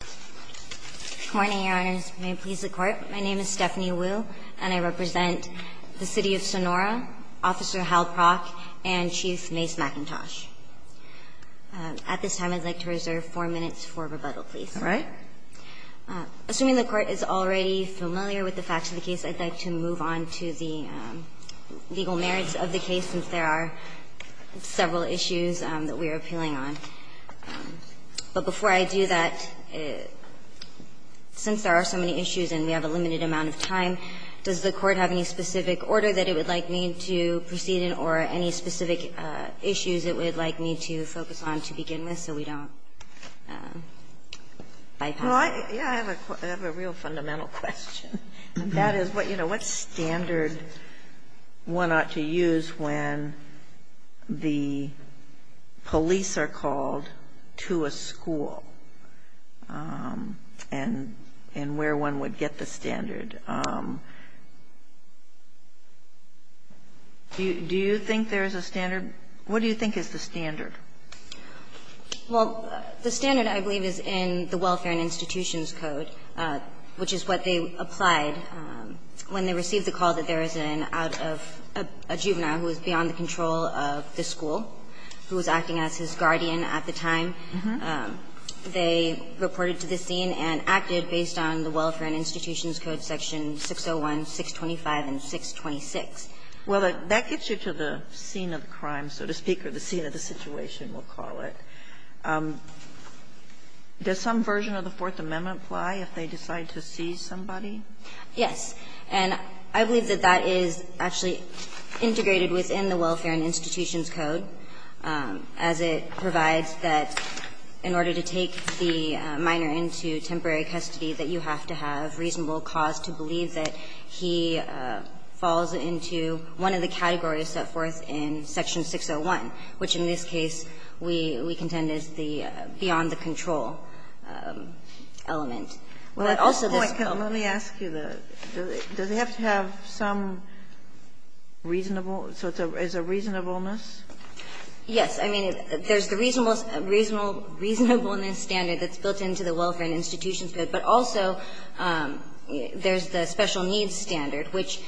Good morning, Your Honors. May it please the Court, my name is Stephanie Wu, and I represent the City of Sonora, Officer Hal Prock, and Chief Mace McIntosh. At this time, I'd like to reserve four minutes for rebuttal, please. All right. Assuming the Court is already familiar with the facts of the case, I'd like to move on to the legal merits of the case, since there are several issues that we are appealing on. But before I do that, since there are so many issues and we have a limited amount of time, does the Court have any specific order that it would like me to proceed in, or any specific issues it would like me to focus on to begin with, so we don't bypass it? I have a real fundamental question, and that is, you know, what standard one ought to use when the police are called to a school, and where one would get the standard? Do you think there's a standard? What do you think is the standard? Well, the standard, I believe, is in the Welfare and Institutions Code, which is what they applied when they received the call that there was an out of a juvenile who was beyond the control of the school, who was acting as his guardian at the time. They reported to the scene and acted based on the Welfare and Institutions Code section 601, 625, and 626. Well, that gets you to the scene of the crime, so to speak, or the scene of the situation, we'll call it. Does some version of the Fourth Amendment apply if they decide to seize somebody? Yes. And I believe that that is actually integrated within the Welfare and Institutions Code, as it provides that in order to take the minor into temporary custody, that you have to have reasonable cause to believe that he falls into one of the categories set forth in section 601, which in this case we contend is the beyond the control element. But also this bill. Let me ask you, does it have to have some reasonable, so it's a reasonableness? Yes. I mean, there's the reasonableness standard that's built into the Welfare and Institutions Code, but also there's the special needs standard, which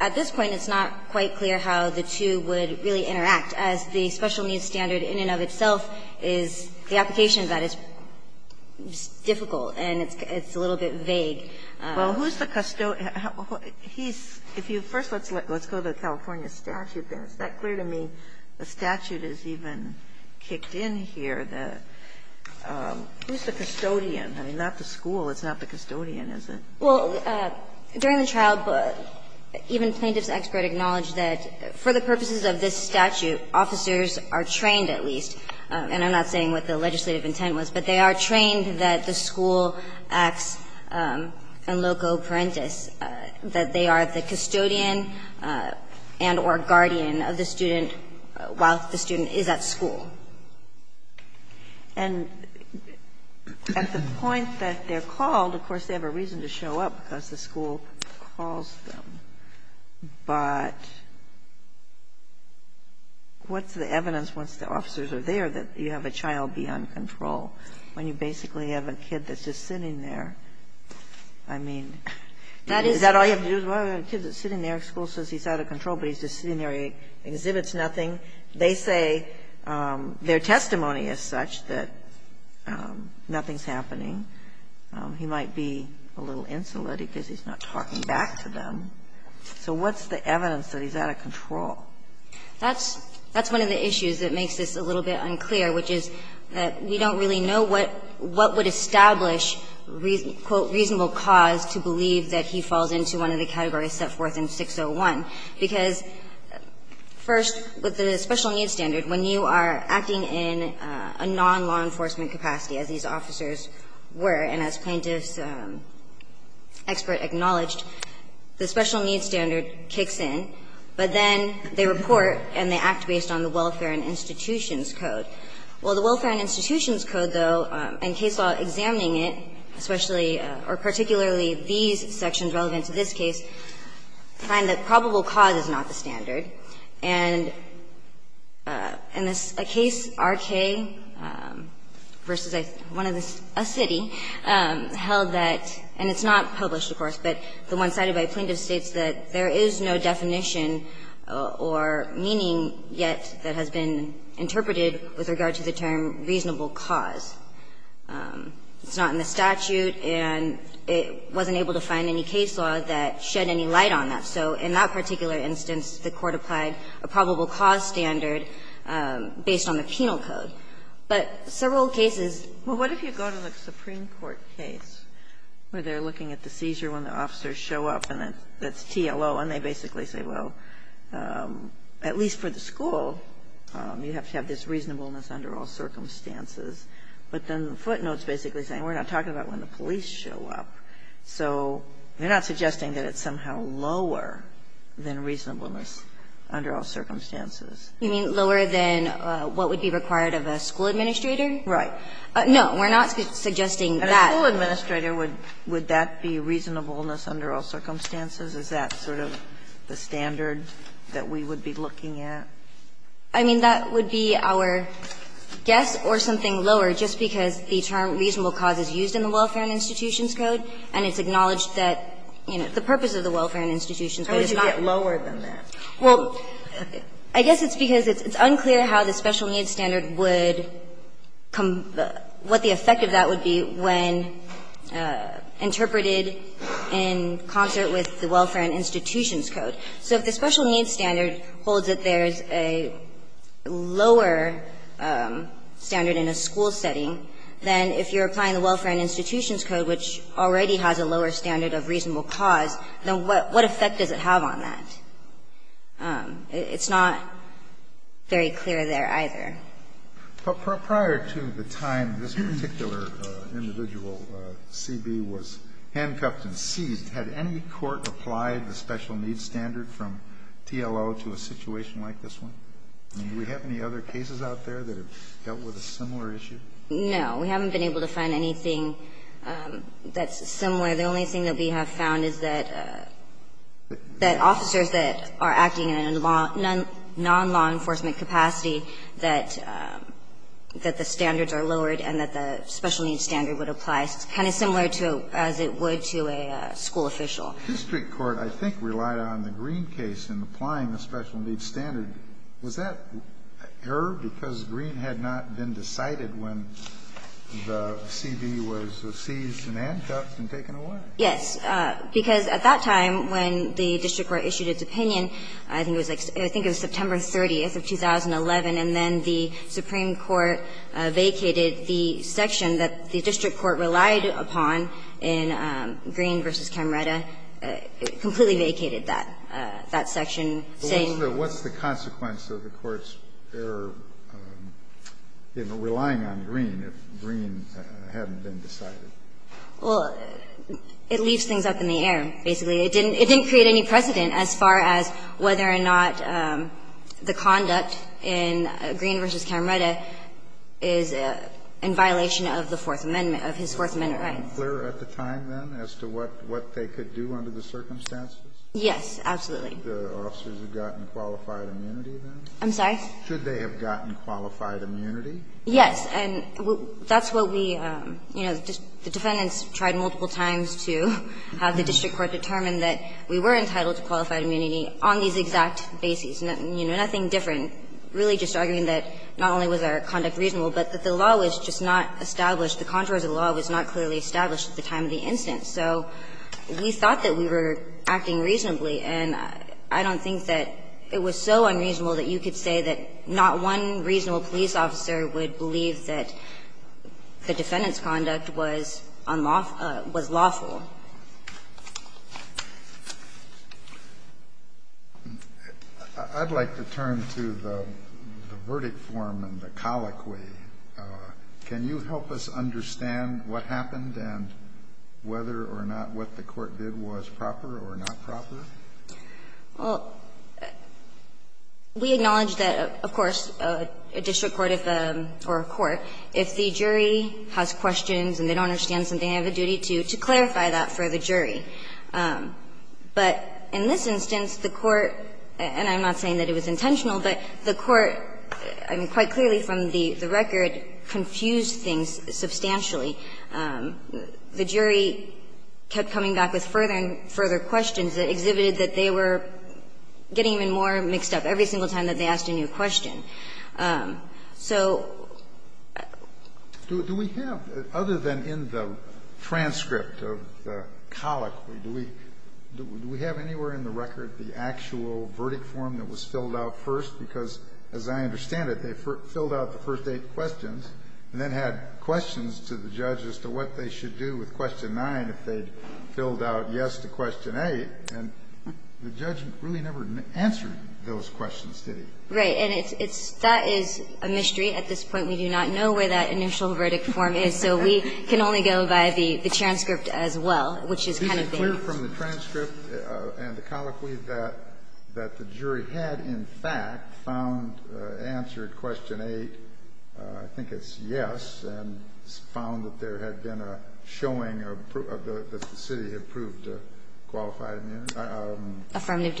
at this point it's not quite clear how the two would really interact, as the special needs standard in and of itself is the application of that is difficult and it's a little bit vague. Well, who's the custodian? He's – if you first let's go to the California statute there. Is that clear to me? The statute is even kicked in here. Who's the custodian? I mean, not the school. It's not the custodian, is it? Well, during the trial, even plaintiff's expert acknowledged that for the purposes of this statute, officers are trained at least, and I'm not saying what the legislative intent was, but they are trained that the school acts in loco parentis, that they are the custodian and or guardian of the student while the student is at school. And at the point that they're called, of course, they have a reason to show up because the school calls them, but what's the evidence once the officers are there that you have a child beyond control when you basically have a kid that's just sitting there? I mean, is that all you have to do? A kid that's sitting there, school says he's out of control, but he's just sitting there, he exhibits nothing. They say their testimony is such that nothing's happening. He might be a little insolent because he's not talking back to them. So what's the evidence that he's out of control? That's one of the issues that makes this a little bit unclear, which is that we don't really know what would establish, quote, reasonable cause to believe that he falls into one of the categories set forth in 601. Because first, with the special needs standard, when you are acting in a non-law enforcement capacity, as these officers were, and as plaintiff's expert acknowledged, the special needs standard kicks in, but then they report and they act based on the welfare and institutions code. Well, the welfare and institutions code, though, in case law examining it, especially or particularly these sections relevant to this case, find that probable cause is not the standard. And in a case, R.K., versus a city, held that, and it's not published, of course, but the one cited by plaintiff states that there is no definition or meaning yet that has been interpreted with regard to the term reasonable cause. It's not in the statute, and it wasn't able to find any case law that shed any light on that. So in that particular instance, the Court applied a probable cause standard based on the penal code. But several cases go to the Supreme Court case, where they are looking at the seizure when the officers show up, and that's TLO, and they basically say, well, at least for the school, you have to have this reasonableness under all circumstances. But then the footnote is basically saying we're not talking about when the police show up. So they're not suggesting that it's somehow lower than reasonableness under all circumstances. You mean lower than what would be required of a school administrator? Right. No, we're not suggesting that. And a school administrator, would that be reasonableness under all circumstances? Is that sort of the standard that we would be looking at? I mean, that would be our guess, or something lower, just because the term reasonable cause is used in the Welfare and Institutions Code, and it's acknowledged that, you know, the purpose of the Welfare and Institutions Code is not lower than that. Well, I guess it's because it's unclear how the special needs standard would come what the effect of that would be when interpreted in concert with the Welfare and Institutions Code. So if the special needs standard holds that there's a lower standard in a school setting, then if you're applying the Welfare and Institutions Code, which already has a lower standard of reasonable cause, then what effect does it have on that? It's not very clear there either. But prior to the time this particular individual, CB, was handcuffed and seized, had any court applied the special needs standard from TLO to a situation like this one? I mean, do we have any other cases out there that have dealt with a similar issue? No. We haven't been able to find anything that's similar. The only thing that we have found is that officers that are acting in a non-law enforcement capacity, that the standards are lowered and that the special needs standard would apply, kind of similar to as it would to a school official. The district court, I think, relied on the Green case in applying the special needs standard. Was that error because Green had not been decided when the CB was seized and handcuffed and taken away? Yes. Because at that time when the district court issued its opinion, I think it was, I think it was September 30th of 2011, and then the Supreme Court vacated the section that the district court relied upon in Green v. Camreta. It completely vacated that section, saying the court's error, you know, relying on Green if Green hadn't been decided. Well, it leaves things up in the air, basically. It didn't create any precedent as far as whether or not the conduct in Green v. Camreta is in violation of the Fourth Amendment, of his Fourth Amendment rights. Were they clear at the time, then, as to what they could do under the circumstances? Yes, absolutely. Should the officers have gotten qualified immunity, then? I'm sorry? Should they have gotten qualified immunity? Yes. And that's what we, you know, the defendants tried multiple times to have the district court determine that we were entitled to qualified immunity on these exact bases. You know, nothing different, really just arguing that not only was our conduct reasonable, but that the law was just not established, the contours of the law was not clearly established at the time of the instance. So we thought that we were acting reasonably, and I don't think that it was so unreasonable that you could say that not one reasonable police officer would believe that the defendant's conduct was unlawful, was lawful. I'd like to turn to the verdict form and the colloquy. Can you help us understand what happened and whether or not what the court did was proper or not proper? Well, we acknowledge that, of course, a district court or a court, if the jury has any questions about that, they would ask that for the jury. But in this instance, the court, and I'm not saying that it was intentional, but the court, I mean, quite clearly from the record, confused things substantially. The jury kept coming back with further and further questions that exhibited that they were getting even more mixed up every single time that they asked a new question. So do we have, other than in the transcript of the colloquy, do we have anywhere in the record the actual verdict form that was filled out first? Because as I understand it, they filled out the first eight questions and then had questions to the judge as to what they should do with question 9 if they'd filled out yes to question 8, and the judge really never answered those questions, did he? Right. And it's – that is a mystery at this point. We do not know where that initial verdict form is, so we can only go by the transcript as well, which is kind of vague. Is it clear from the transcript and the colloquy that the jury had, in fact, found – answered question 8, I think it's yes, and found that there had been a showing of the – that the city had proved qualified immunity? Affirmative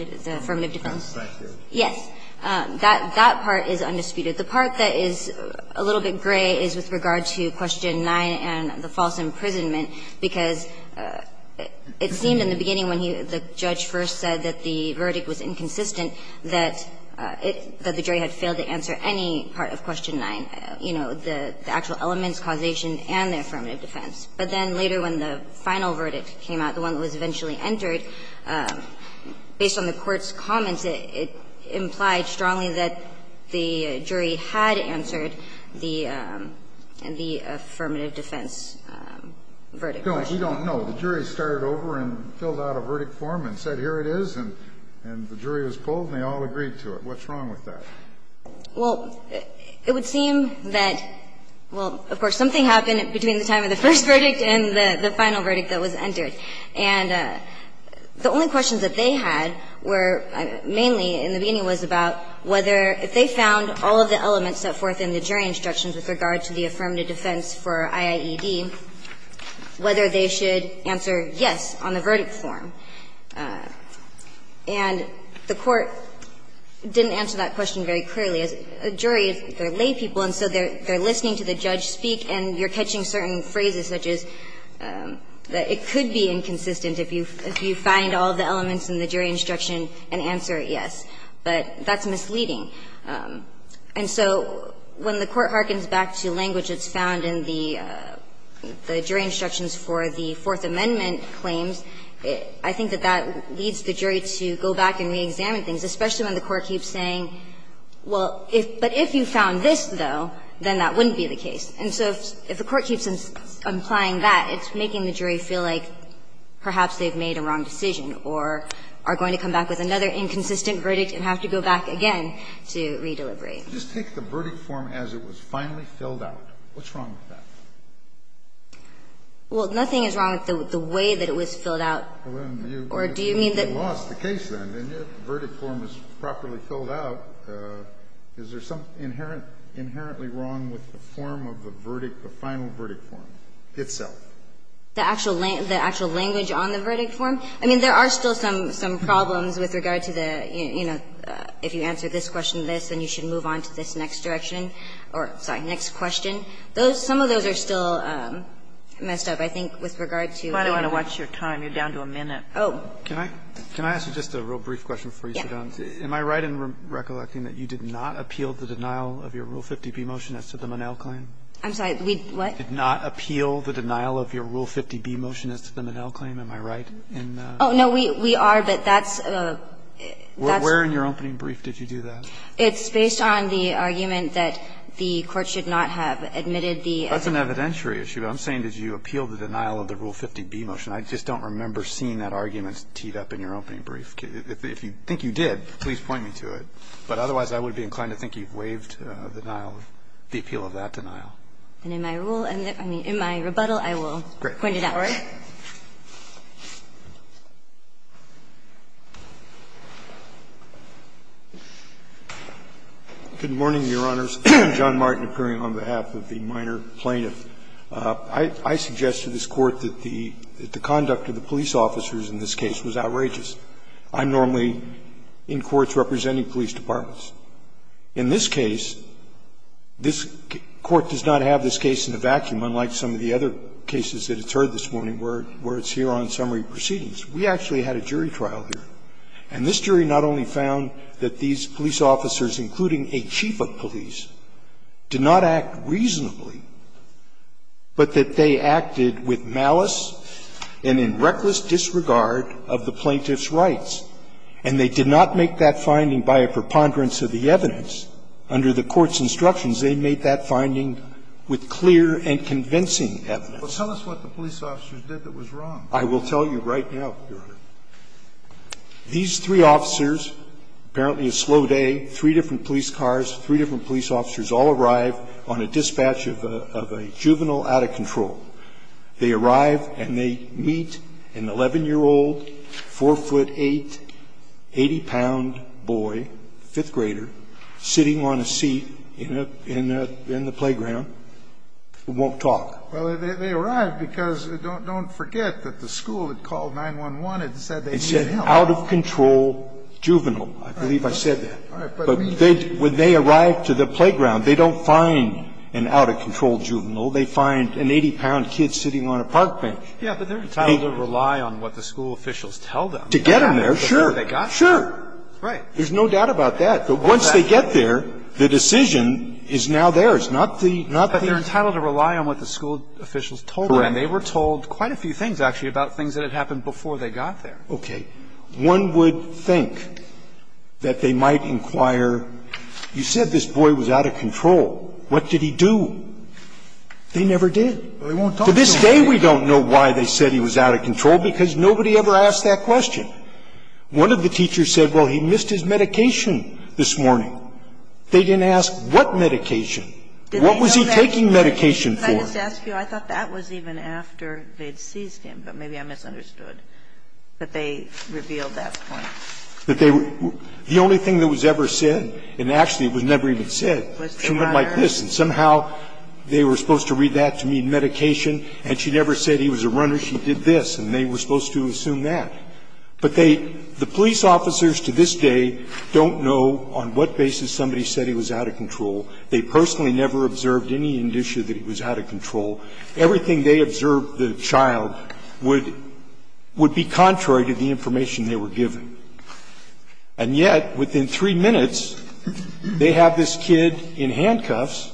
defense. Thank you. Yes. That – that part is undisputed. The part that is a little bit gray is with regard to question 9 and the false imprisonment, because it seemed in the beginning when he – the judge first said that the verdict was inconsistent, that it – that the jury had failed to answer any part of question 9, you know, the actual elements, causation, and the affirmative defense. But then later when the final verdict came out, the one that was eventually entered, based on the Court's comments, it implied strongly that the jury had answered the – the affirmative defense verdict question. No, we don't know. The jury started over and filled out a verdict form and said, here it is, and the jury was told and they all agreed to it. What's wrong with that? Well, it would seem that, well, of course, something happened between the time of the first verdict and the final verdict that was entered. And the only questions that they had were mainly in the beginning was about whether if they found all of the elements set forth in the jury instructions with regard to the affirmative defense for IAED, whether they should answer yes on the verdict form. And the Court didn't answer that question very clearly. As a jury, they're laypeople, and so they're listening to the judge speak, and you're inconsistent if you find all of the elements in the jury instruction and answer it yes. But that's misleading. And so when the Court harkens back to language that's found in the jury instructions for the Fourth Amendment claims, I think that that leads the jury to go back and reexamine things, especially when the Court keeps saying, well, but if you found this, though, then that wouldn't be the case. And so if the Court keeps implying that, it's making the jury feel like perhaps they've made a wrong decision or are going to come back with another inconsistent verdict and have to go back again to re-delivery. Kennedy. Just take the verdict form as it was finally filled out. What's wrong with that? Well, nothing is wrong with the way that it was filled out. Or do you mean that you lost the case, then? And yet the verdict form is properly filled out. Is there something inherently wrong with the form of the verdict, the final verdict form itself? The actual language on the verdict form? I mean, there are still some problems with regard to the, you know, if you answer this question, this, then you should move on to this next direction or, sorry, next question. Some of those are still messed up, I think, with regard to the verdict form. Why do I want to watch your time? You're down to a minute. Oh. Can I ask you just a real brief question before you sit down? Yes. Am I right in recollecting that you did not appeal the denial of your Rule 50b motion as to the Monell claim? I'm sorry. We, what? Did not appeal the denial of your Rule 50b motion as to the Monell claim. Am I right in that? Oh, no. We are, but that's a, that's a Where in your opening brief did you do that? It's based on the argument that the Court should not have admitted the That's an evidentiary issue. I'm saying did you appeal the denial of the Rule 50b motion. I just don't remember seeing that argument teed up in your opening brief. If you think you did, please point me to it. But otherwise, I would be inclined to think you've waived the denial of, the appeal of that denial. And in my rule, I mean, in my rebuttal, I will point it out. Great. All right. Good morning, Your Honors. John Martin appearing on behalf of the minor plaintiff. I suggest to this Court that the conduct of the police officers in this case was outrageous. I'm normally in courts representing police departments. In this case, this Court does not have this case in a vacuum, unlike some of the other cases that it's heard this morning, where it's here on summary proceedings. We actually had a jury trial here, and this jury not only found that these police officers, including a chief of police, did not act reasonably, but that they acted with malice and in reckless disregard of the plaintiff's rights. And they did not make that finding by a preponderance of the evidence. Under the Court's instructions, they made that finding with clear and convincing evidence. Well, tell us what the police officers did that was wrong. I will tell you right now, Your Honor. These three officers, apparently a slow day, three different police cars, three different police officers, all arrive on a dispatch of a juvenile out of control. They arrive and they meet an 11-year-old, 4'8", 80-pound boy, fifth grader, sitting on a seat in a playground who won't talk. Well, they arrived because, don't forget, that the school had called 911 and said they needed help. It said out-of-control juvenile. I believe I said that. All right. But when they arrive to the playground, they don't find an out-of-control juvenile. They find an 80-pound kid sitting on a park bench. Yeah, but they're entitled to rely on what the school officials tell them. To get him there, sure. Sure. Right. There's no doubt about that. But once they get there, the decision is now theirs, not the other. But they're entitled to rely on what the school officials told them. Correct. And they were told quite a few things, actually, about things that had happened before they got there. Okay. One would think that they might inquire, you said this boy was out of control. What did he do? They never did. To this day, we don't know why they said he was out of control, because nobody ever asked that question. One of the teachers said, well, he missed his medication this morning. They didn't ask what medication. What was he taking medication for? Did they know that? Could I just ask you, I thought that was even after they had seized him, but maybe I misunderstood that they revealed that point. That they were the only thing that was ever said, and actually it was never even said. She went like this, and somehow they were supposed to read that to mean medication, and she never said he was a runner. She did this, and they were supposed to assume that. But they the police officers to this day don't know on what basis somebody said he was out of control. They personally never observed any indicia that he was out of control. Everything they observed the child would be contrary to the information they were given. And yet, within three minutes, they have this kid in handcuffs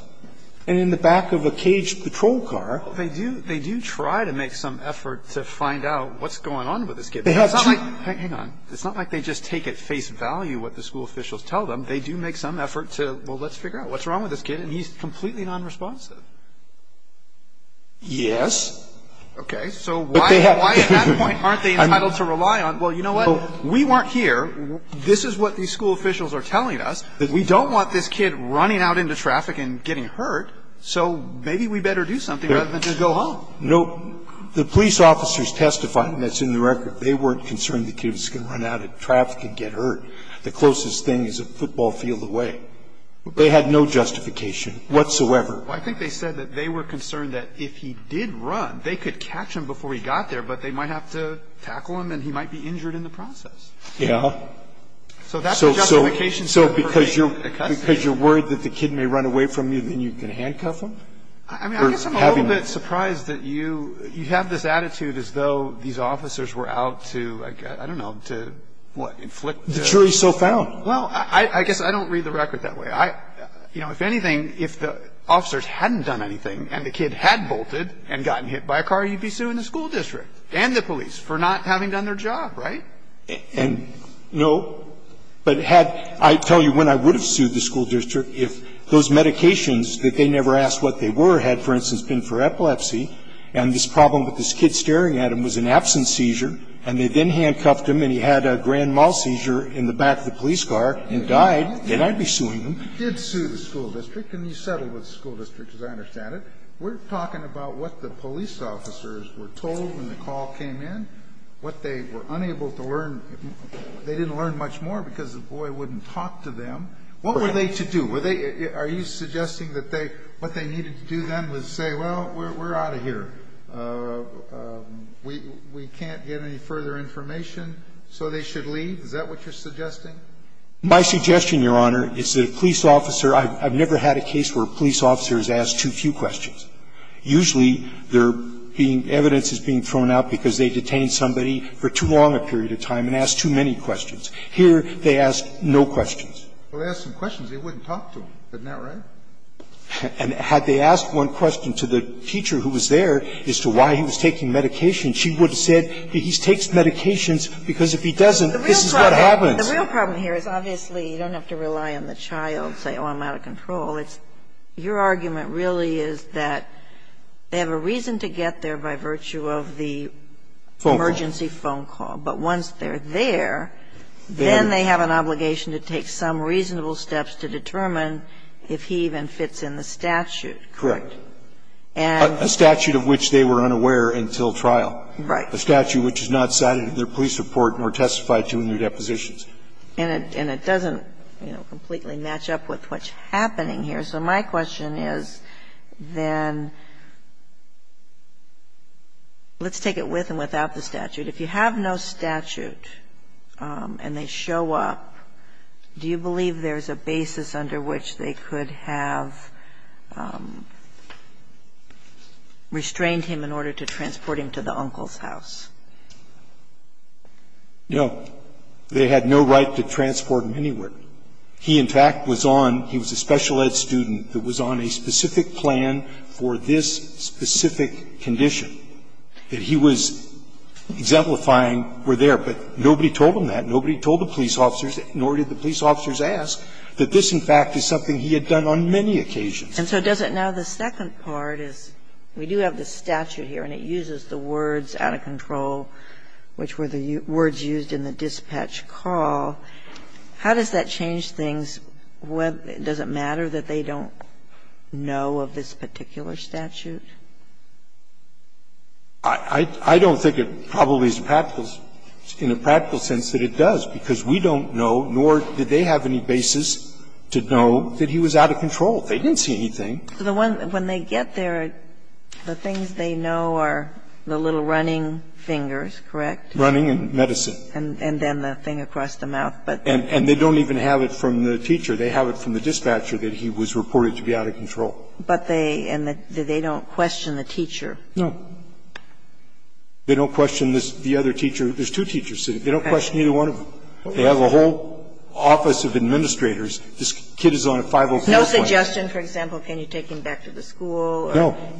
and in the back of a caged patrol car. They do try to make some effort to find out what's going on with this kid. It's not like they just take at face value what the school officials tell them. They do make some effort to, well, let's figure out what's wrong with this kid, and he's completely nonresponsive. Yes. Okay. So why at that point aren't they entitled to rely on? Well, you know what? We weren't here. This is what these school officials are telling us. We don't want this kid running out into traffic and getting hurt, so maybe we better do something rather than just go home. No. The police officers testified, and that's in the record. They weren't concerned the kid was going to run out of traffic and get hurt. The closest thing is a football field away. They had no justification whatsoever. I think they said that they were concerned that if he did run, they could catch him before he got there, but they might have to tackle him and he might be injured in the process. Yeah. So that's the justification for being a custodian. So because you're worried that the kid may run away from you, then you can handcuff him? I mean, I guess I'm a little bit surprised that you have this attitude as though these officers were out to, I don't know, to what, inflict the... The jury is so foul. Well, I guess I don't read the record that way. You know, if anything, if the officers hadn't done anything and the kid had bolted and gotten hit by a car, you'd be suing the school district and the police for not having done their job, right? And, no, but had – I tell you, when I would have sued the school district, if those medications that they never asked what they were had, for instance, been for epilepsy, and this problem with this kid staring at him was an absence seizure, and they then handcuffed him and he had a grand mal seizure in the back of the police car and died, then I'd be suing them. You did sue the school district, and you settled with the school district, as I understand it. We're talking about what the police officers were told when the call came in, what they were unable to learn. They didn't learn much more because the boy wouldn't talk to them. What were they to do? Were they – are you suggesting that they – what they needed to do then was say, well, we're out of here. We can't get any further information, so they should leave? Is that what you're suggesting? My suggestion, Your Honor, is that a police officer – I've never had a case where a police officer is asked too few questions. Usually, they're being – evidence is being thrown out because they detained somebody for too long a period of time and asked too many questions. Here, they ask no questions. Well, they asked some questions. They wouldn't talk to them. Isn't that right? And had they asked one question to the teacher who was there as to why he was taking medication, she would have said, he takes medications because if he doesn't, this is what happens. The real problem here is obviously you don't have to rely on the child, say, oh, I'm out of control. It's – your argument really is that they have a reason to get there by virtue of the emergency phone call. Phone call. But once they're there, then they have an obligation to take some reasonable steps to determine if he even fits in the statute, correct? Correct. And – A statute of which they were unaware until trial. Right. A statute which is not cited in their police report nor testified to in their depositions. And it doesn't, you know, completely match up with what's happening here. So my question is, then, let's take it with and without the statute. If you have no statute and they show up, do you believe there's a basis under which they could have restrained him in order to transport him to the uncle's house? No. They had no right to transport him anywhere. They had no right to do that. And they had no right to tell him that he was there. He, in fact, was on – he was a special ed student that was on a specific plan for this specific condition that he was exemplifying were there. But nobody told him that. Nobody told the police officers, nor did the police officers ask, that this, in fact, is something he had done on many occasions. And so does it now – the second part is we do have the statute here, and it uses the words, out of control, which were the words used in the dispatch call. How does that change things? Does it matter that they don't know of this particular statute? I don't think it probably is in a practical sense that it does, because we don't know, nor did they have any basis to know that he was out of control. They didn't see anything. When they get there, the things they know are the little running fingers, correct? Running and medicine. And then the thing across the mouth. And they don't even have it from the teacher. They have it from the dispatcher that he was reported to be out of control. But they – and they don't question the teacher. No. They don't question the other teacher. There's two teachers sitting. They don't question either one of them. They have a whole office of administrators. This kid is on a 504 plan. No suggestion, for example, can you take him back to the school or any of this?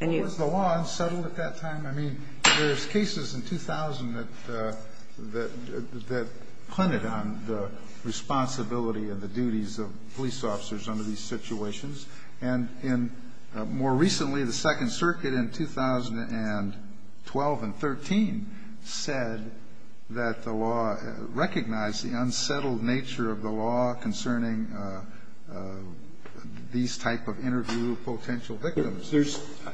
No. Was the law unsettled at that time? I mean, there's cases in 2000 that – that pointed on the responsibility of the duties of police officers under these situations. And in – more recently, the Second Circuit in 2012 and 13 said that the law recognized the unsettled nature of the law concerning these type of interview potential victims. There's –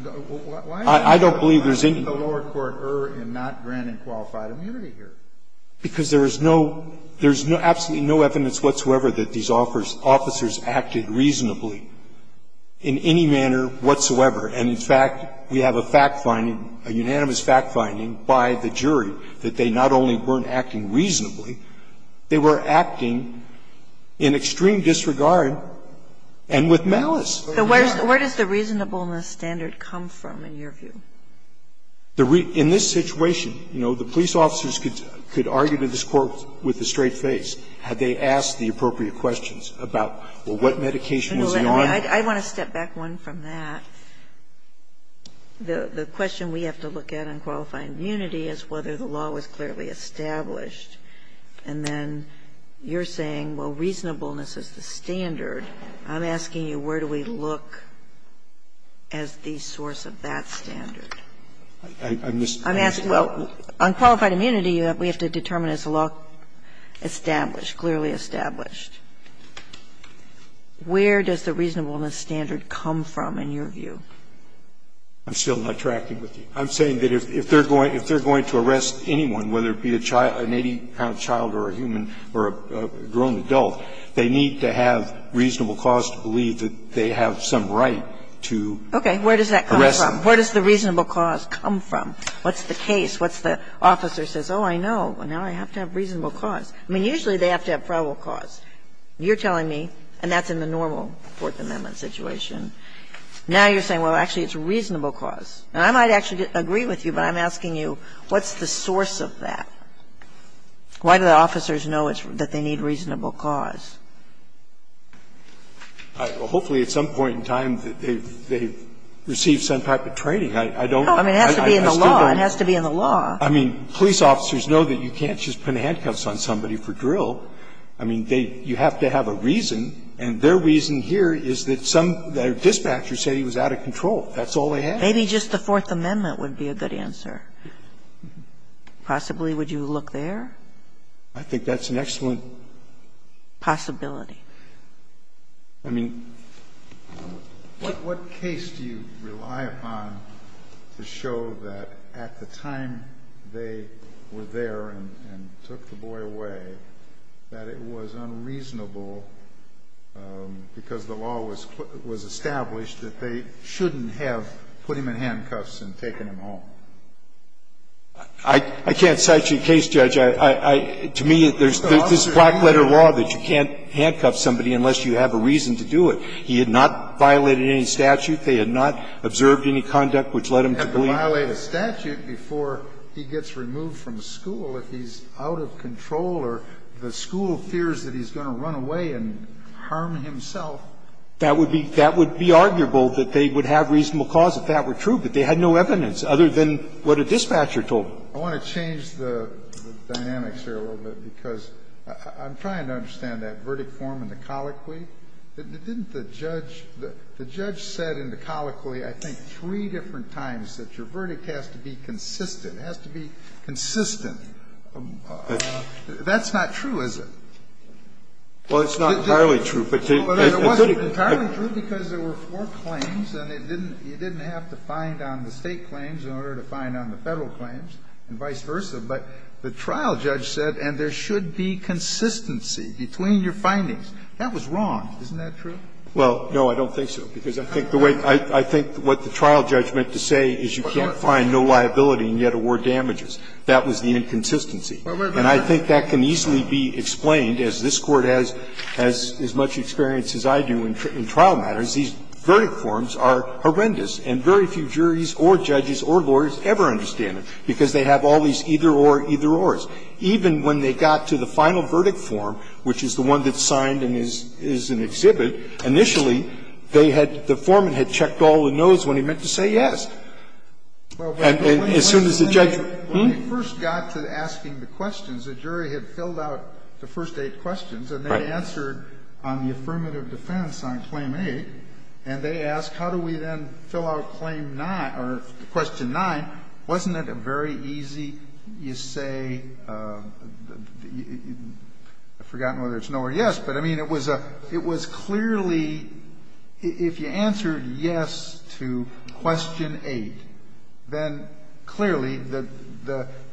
I don't believe there's any – Why is the lower court err in not granting qualified immunity here? Because there is no – there's absolutely no evidence whatsoever that these officers acted reasonably in any manner whatsoever. And, in fact, we have a fact finding, a unanimous fact finding by the jury that they not only weren't acting reasonably, they were acting in extreme disregard and with malice. Where does the reasonableness standard come from, in your view? In this situation, you know, the police officers could argue to this court with a straight face had they asked the appropriate questions about, well, what medication is he on? I want to step back one from that. The question we have to look at on qualified immunity is whether the law was clearly established. And then you're saying, well, reasonableness is the standard. I'm asking you, where do we look as the source of that standard? I'm asking, well, on qualified immunity, we have to determine is the law established, clearly established. Where does the reasonableness standard come from, in your view? I'm still not tracking with you. I'm saying that if they're going to arrest anyone, whether it be a child, an 80-pound child or a human or a grown adult, they need to have reasonable cause to believe that they have some right to arrest them. Okay. Where does that come from? Where does the reasonable cause come from? What's the case? What's the officer says? Oh, I know. Now I have to have reasonable cause. I mean, usually they have to have probable cause. You're telling me, and that's in the normal Fourth Amendment situation, now you're saying, well, actually, it's reasonable cause. And I might actually agree with you, but I'm asking you, what's the source of that? Why do the officers know that they need reasonable cause? Hopefully, at some point in time, they've received some type of training. I don't know. I mean, it has to be in the law. It has to be in the law. I mean, police officers know that you can't just put handcuffs on somebody for drill. I mean, they you have to have a reason, and their reason here is that some of their dispatchers say he was out of control. That's all they have. Maybe just the Fourth Amendment would be a good answer. Possibly, would you look there? I think that's an excellent possibility. I mean, what case do you rely upon to show that at the time they were there and took the boy away, that it was unreasonable because the law was established that they shouldn't have put him in handcuffs and taken him home? I can't cite you a case, Judge. To me, there's this black-letter law that you can't handcuff somebody unless you have a reason to do it. He had not violated any statute. They had not observed any conduct which led him to believe that he was out of control. And I think that's a good example of a case where you can't just say, well, he's out of control, or the school fears that he's going to run away and harm himself. That would be arguable, that they would have reasonable cause if that were true, but they had no evidence other than what a dispatcher told them. I want to change the dynamics here a little bit, because I'm trying to understand that verdict form in the colloquy. Didn't the judge – the judge said in the colloquy, I think, three different times, that your verdict has to be consistent, has to be consistent. That's not true, is it? Well, it's not entirely true, but to the extent that it's not entirely true, because there were four claims and it didn't – you didn't have to find on the State claims in order to find on the Federal claims and vice versa, but the trial judge said, and there should be consistency between your findings. That was wrong. Isn't that true? Well, no, I don't think so, because I think the way – I think what the trial judge meant to say is you can't find no liability and yet award damages. That was the inconsistency. And I think that can easily be explained, as this Court has as much experience as I do in trial matters, these verdict forms are horrendous, and very few juries or judges or lawyers ever understand it, because they have all these either-or, either-ors. Even when they got to the final verdict form, which is the one that's signed and is an exhibit, initially, they had – the foreman had checked all the no's when he meant to say yes. And as soon as the judge – When we first got to asking the questions, the jury had filled out the first eight questions and they answered on the affirmative defense on claim 8, and they asked, how do we then fill out claim 9 – or question 9? Wasn't it a very easy, you say – I've forgotten whether it's no or yes, but I mean, it was a – it was clearly – if you answered yes to question 8, then clearly the –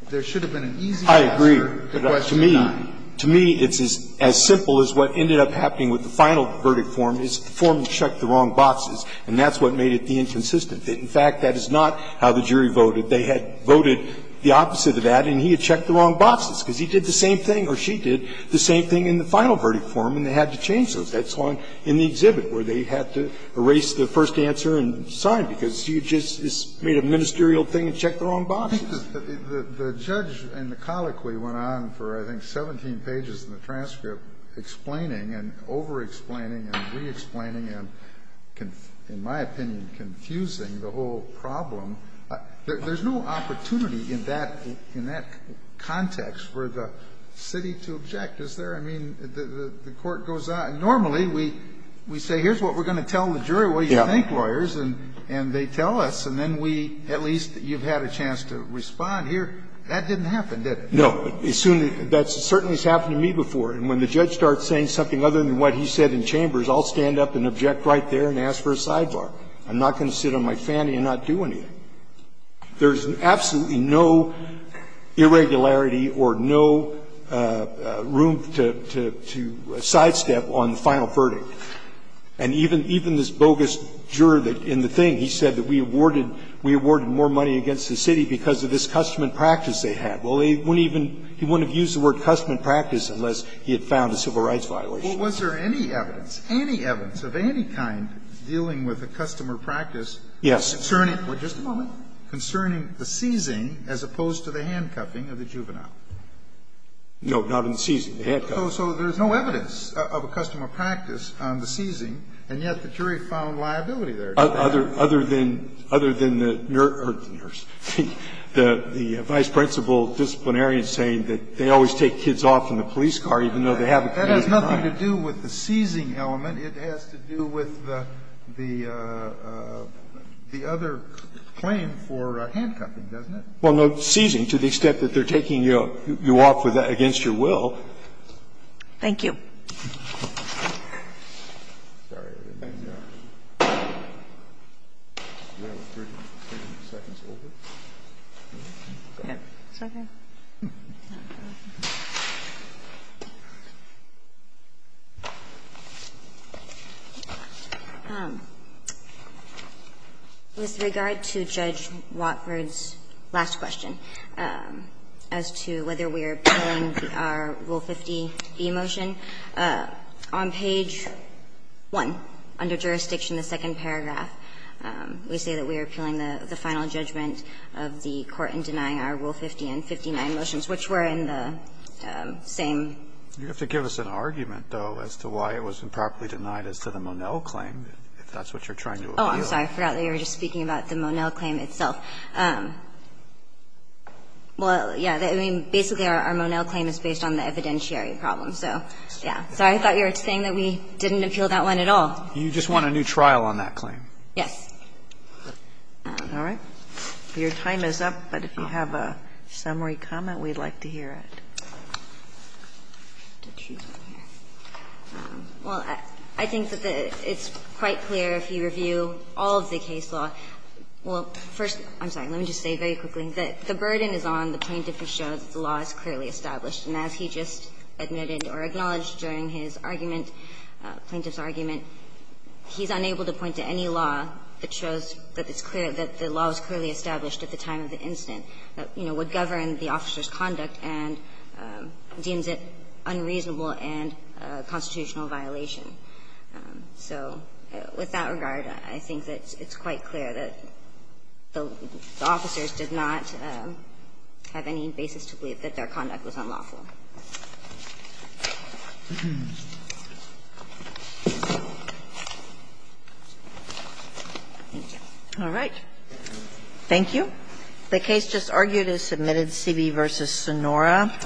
there should have been an easy answer to question 9. I agree, but to me – to me, it's as simple as what ended up happening with the final verdict form is the foreman checked the wrong boxes, and that's what made it the inconsistent. In fact, that is not how the jury voted. They had voted the opposite of that, and he had checked the wrong boxes, because he did the same thing, or she did the same thing in the final verdict form, and they had to change those. That's why in the exhibit where they had to erase the first answer and sign, because you just made a ministerial thing and checked the wrong boxes. The judge in the colloquy went on for, I think, 17 pages in the transcript explaining and over-explaining and re-explaining and, in my opinion, confusing the whole problem. There's no opportunity in that – in that context for the city to object, is there? I mean, the Court goes on. Normally, we say, here's what we're going to tell the jury, what do you think, lawyers, and they tell us, and then we – at least you've had a chance to respond here. That didn't happen, did it? No. As soon – that certainly has happened to me before. And when the judge starts saying something other than what he said in Chambers, I'll stand up and object right there and ask for a sidebar. I'm not going to sit on my fanny and not do anything. There's absolutely no irregularity or no room to – to sidestep on the final verdict. And even – even this bogus juror that in the thing, he said that we awarded – we awarded more money against the city because of this custom and practice they had. Well, they wouldn't even – he wouldn't have used the word custom and practice unless he had found a civil rights violation. Well, was there any evidence, any evidence of any kind, dealing with a custom or practice concerning – just a moment – concerning the seizing as opposed to the handcuffing of the juvenile? No, not in the seizing, the handcuffing. So there's no evidence of a custom or practice on the seizing, and yet the jury found liability there. Other – other than – other than the nurse – the vice principal disciplinarian saying that they always take kids off in the police car, even though they have a community So there's no evidence of a custom or practice. It has nothing to do with the seizing element. It has to do with the – the other claim for handcuffing, doesn't it? Well, no, seizing, to the extent that they're taking you off with that against your will. Thank you. With regard to Judge Watford's last question as to whether we are appealing our Rule 50B motion, on page 1, under jurisdiction, the second paragraph, we say that we are appealing the final judgment of the court in denying our Rule 50 and 59 motions, which were in the same. You have to give us an argument, though, as to why it was improperly denied as to the Monell claim, if that's what you're trying to appeal. Oh, I'm sorry. I forgot that you were just speaking about the Monell claim itself. Well, yeah, I mean, basically, our Monell claim is based on the evidentiary problem, so, yeah. Sorry, I thought you were saying that we didn't appeal that one at all. You just want a new trial on that claim. Yes. All right. Your time is up, but if you have a summary comment, we'd like to hear it. Well, I think that it's quite clear if you review all of the case law. Well, first, I'm sorry, let me just say very quickly that the burden is on the plaintiff to show that the law is clearly established, and as he just admitted or acknowledged during his argument, plaintiff's argument, he's unable to point to any law that shows that it's clear that the law is clearly established at the time of the incident that, you know, would govern the officer's conduct and deems it unreasonable and a constitutional violation. So with that regard, I think that it's quite clear that the officers did not have any basis to believe that their conduct was unlawful. Thank you. All right. Thank you. The case just argued is submitted, CB v. Sonora.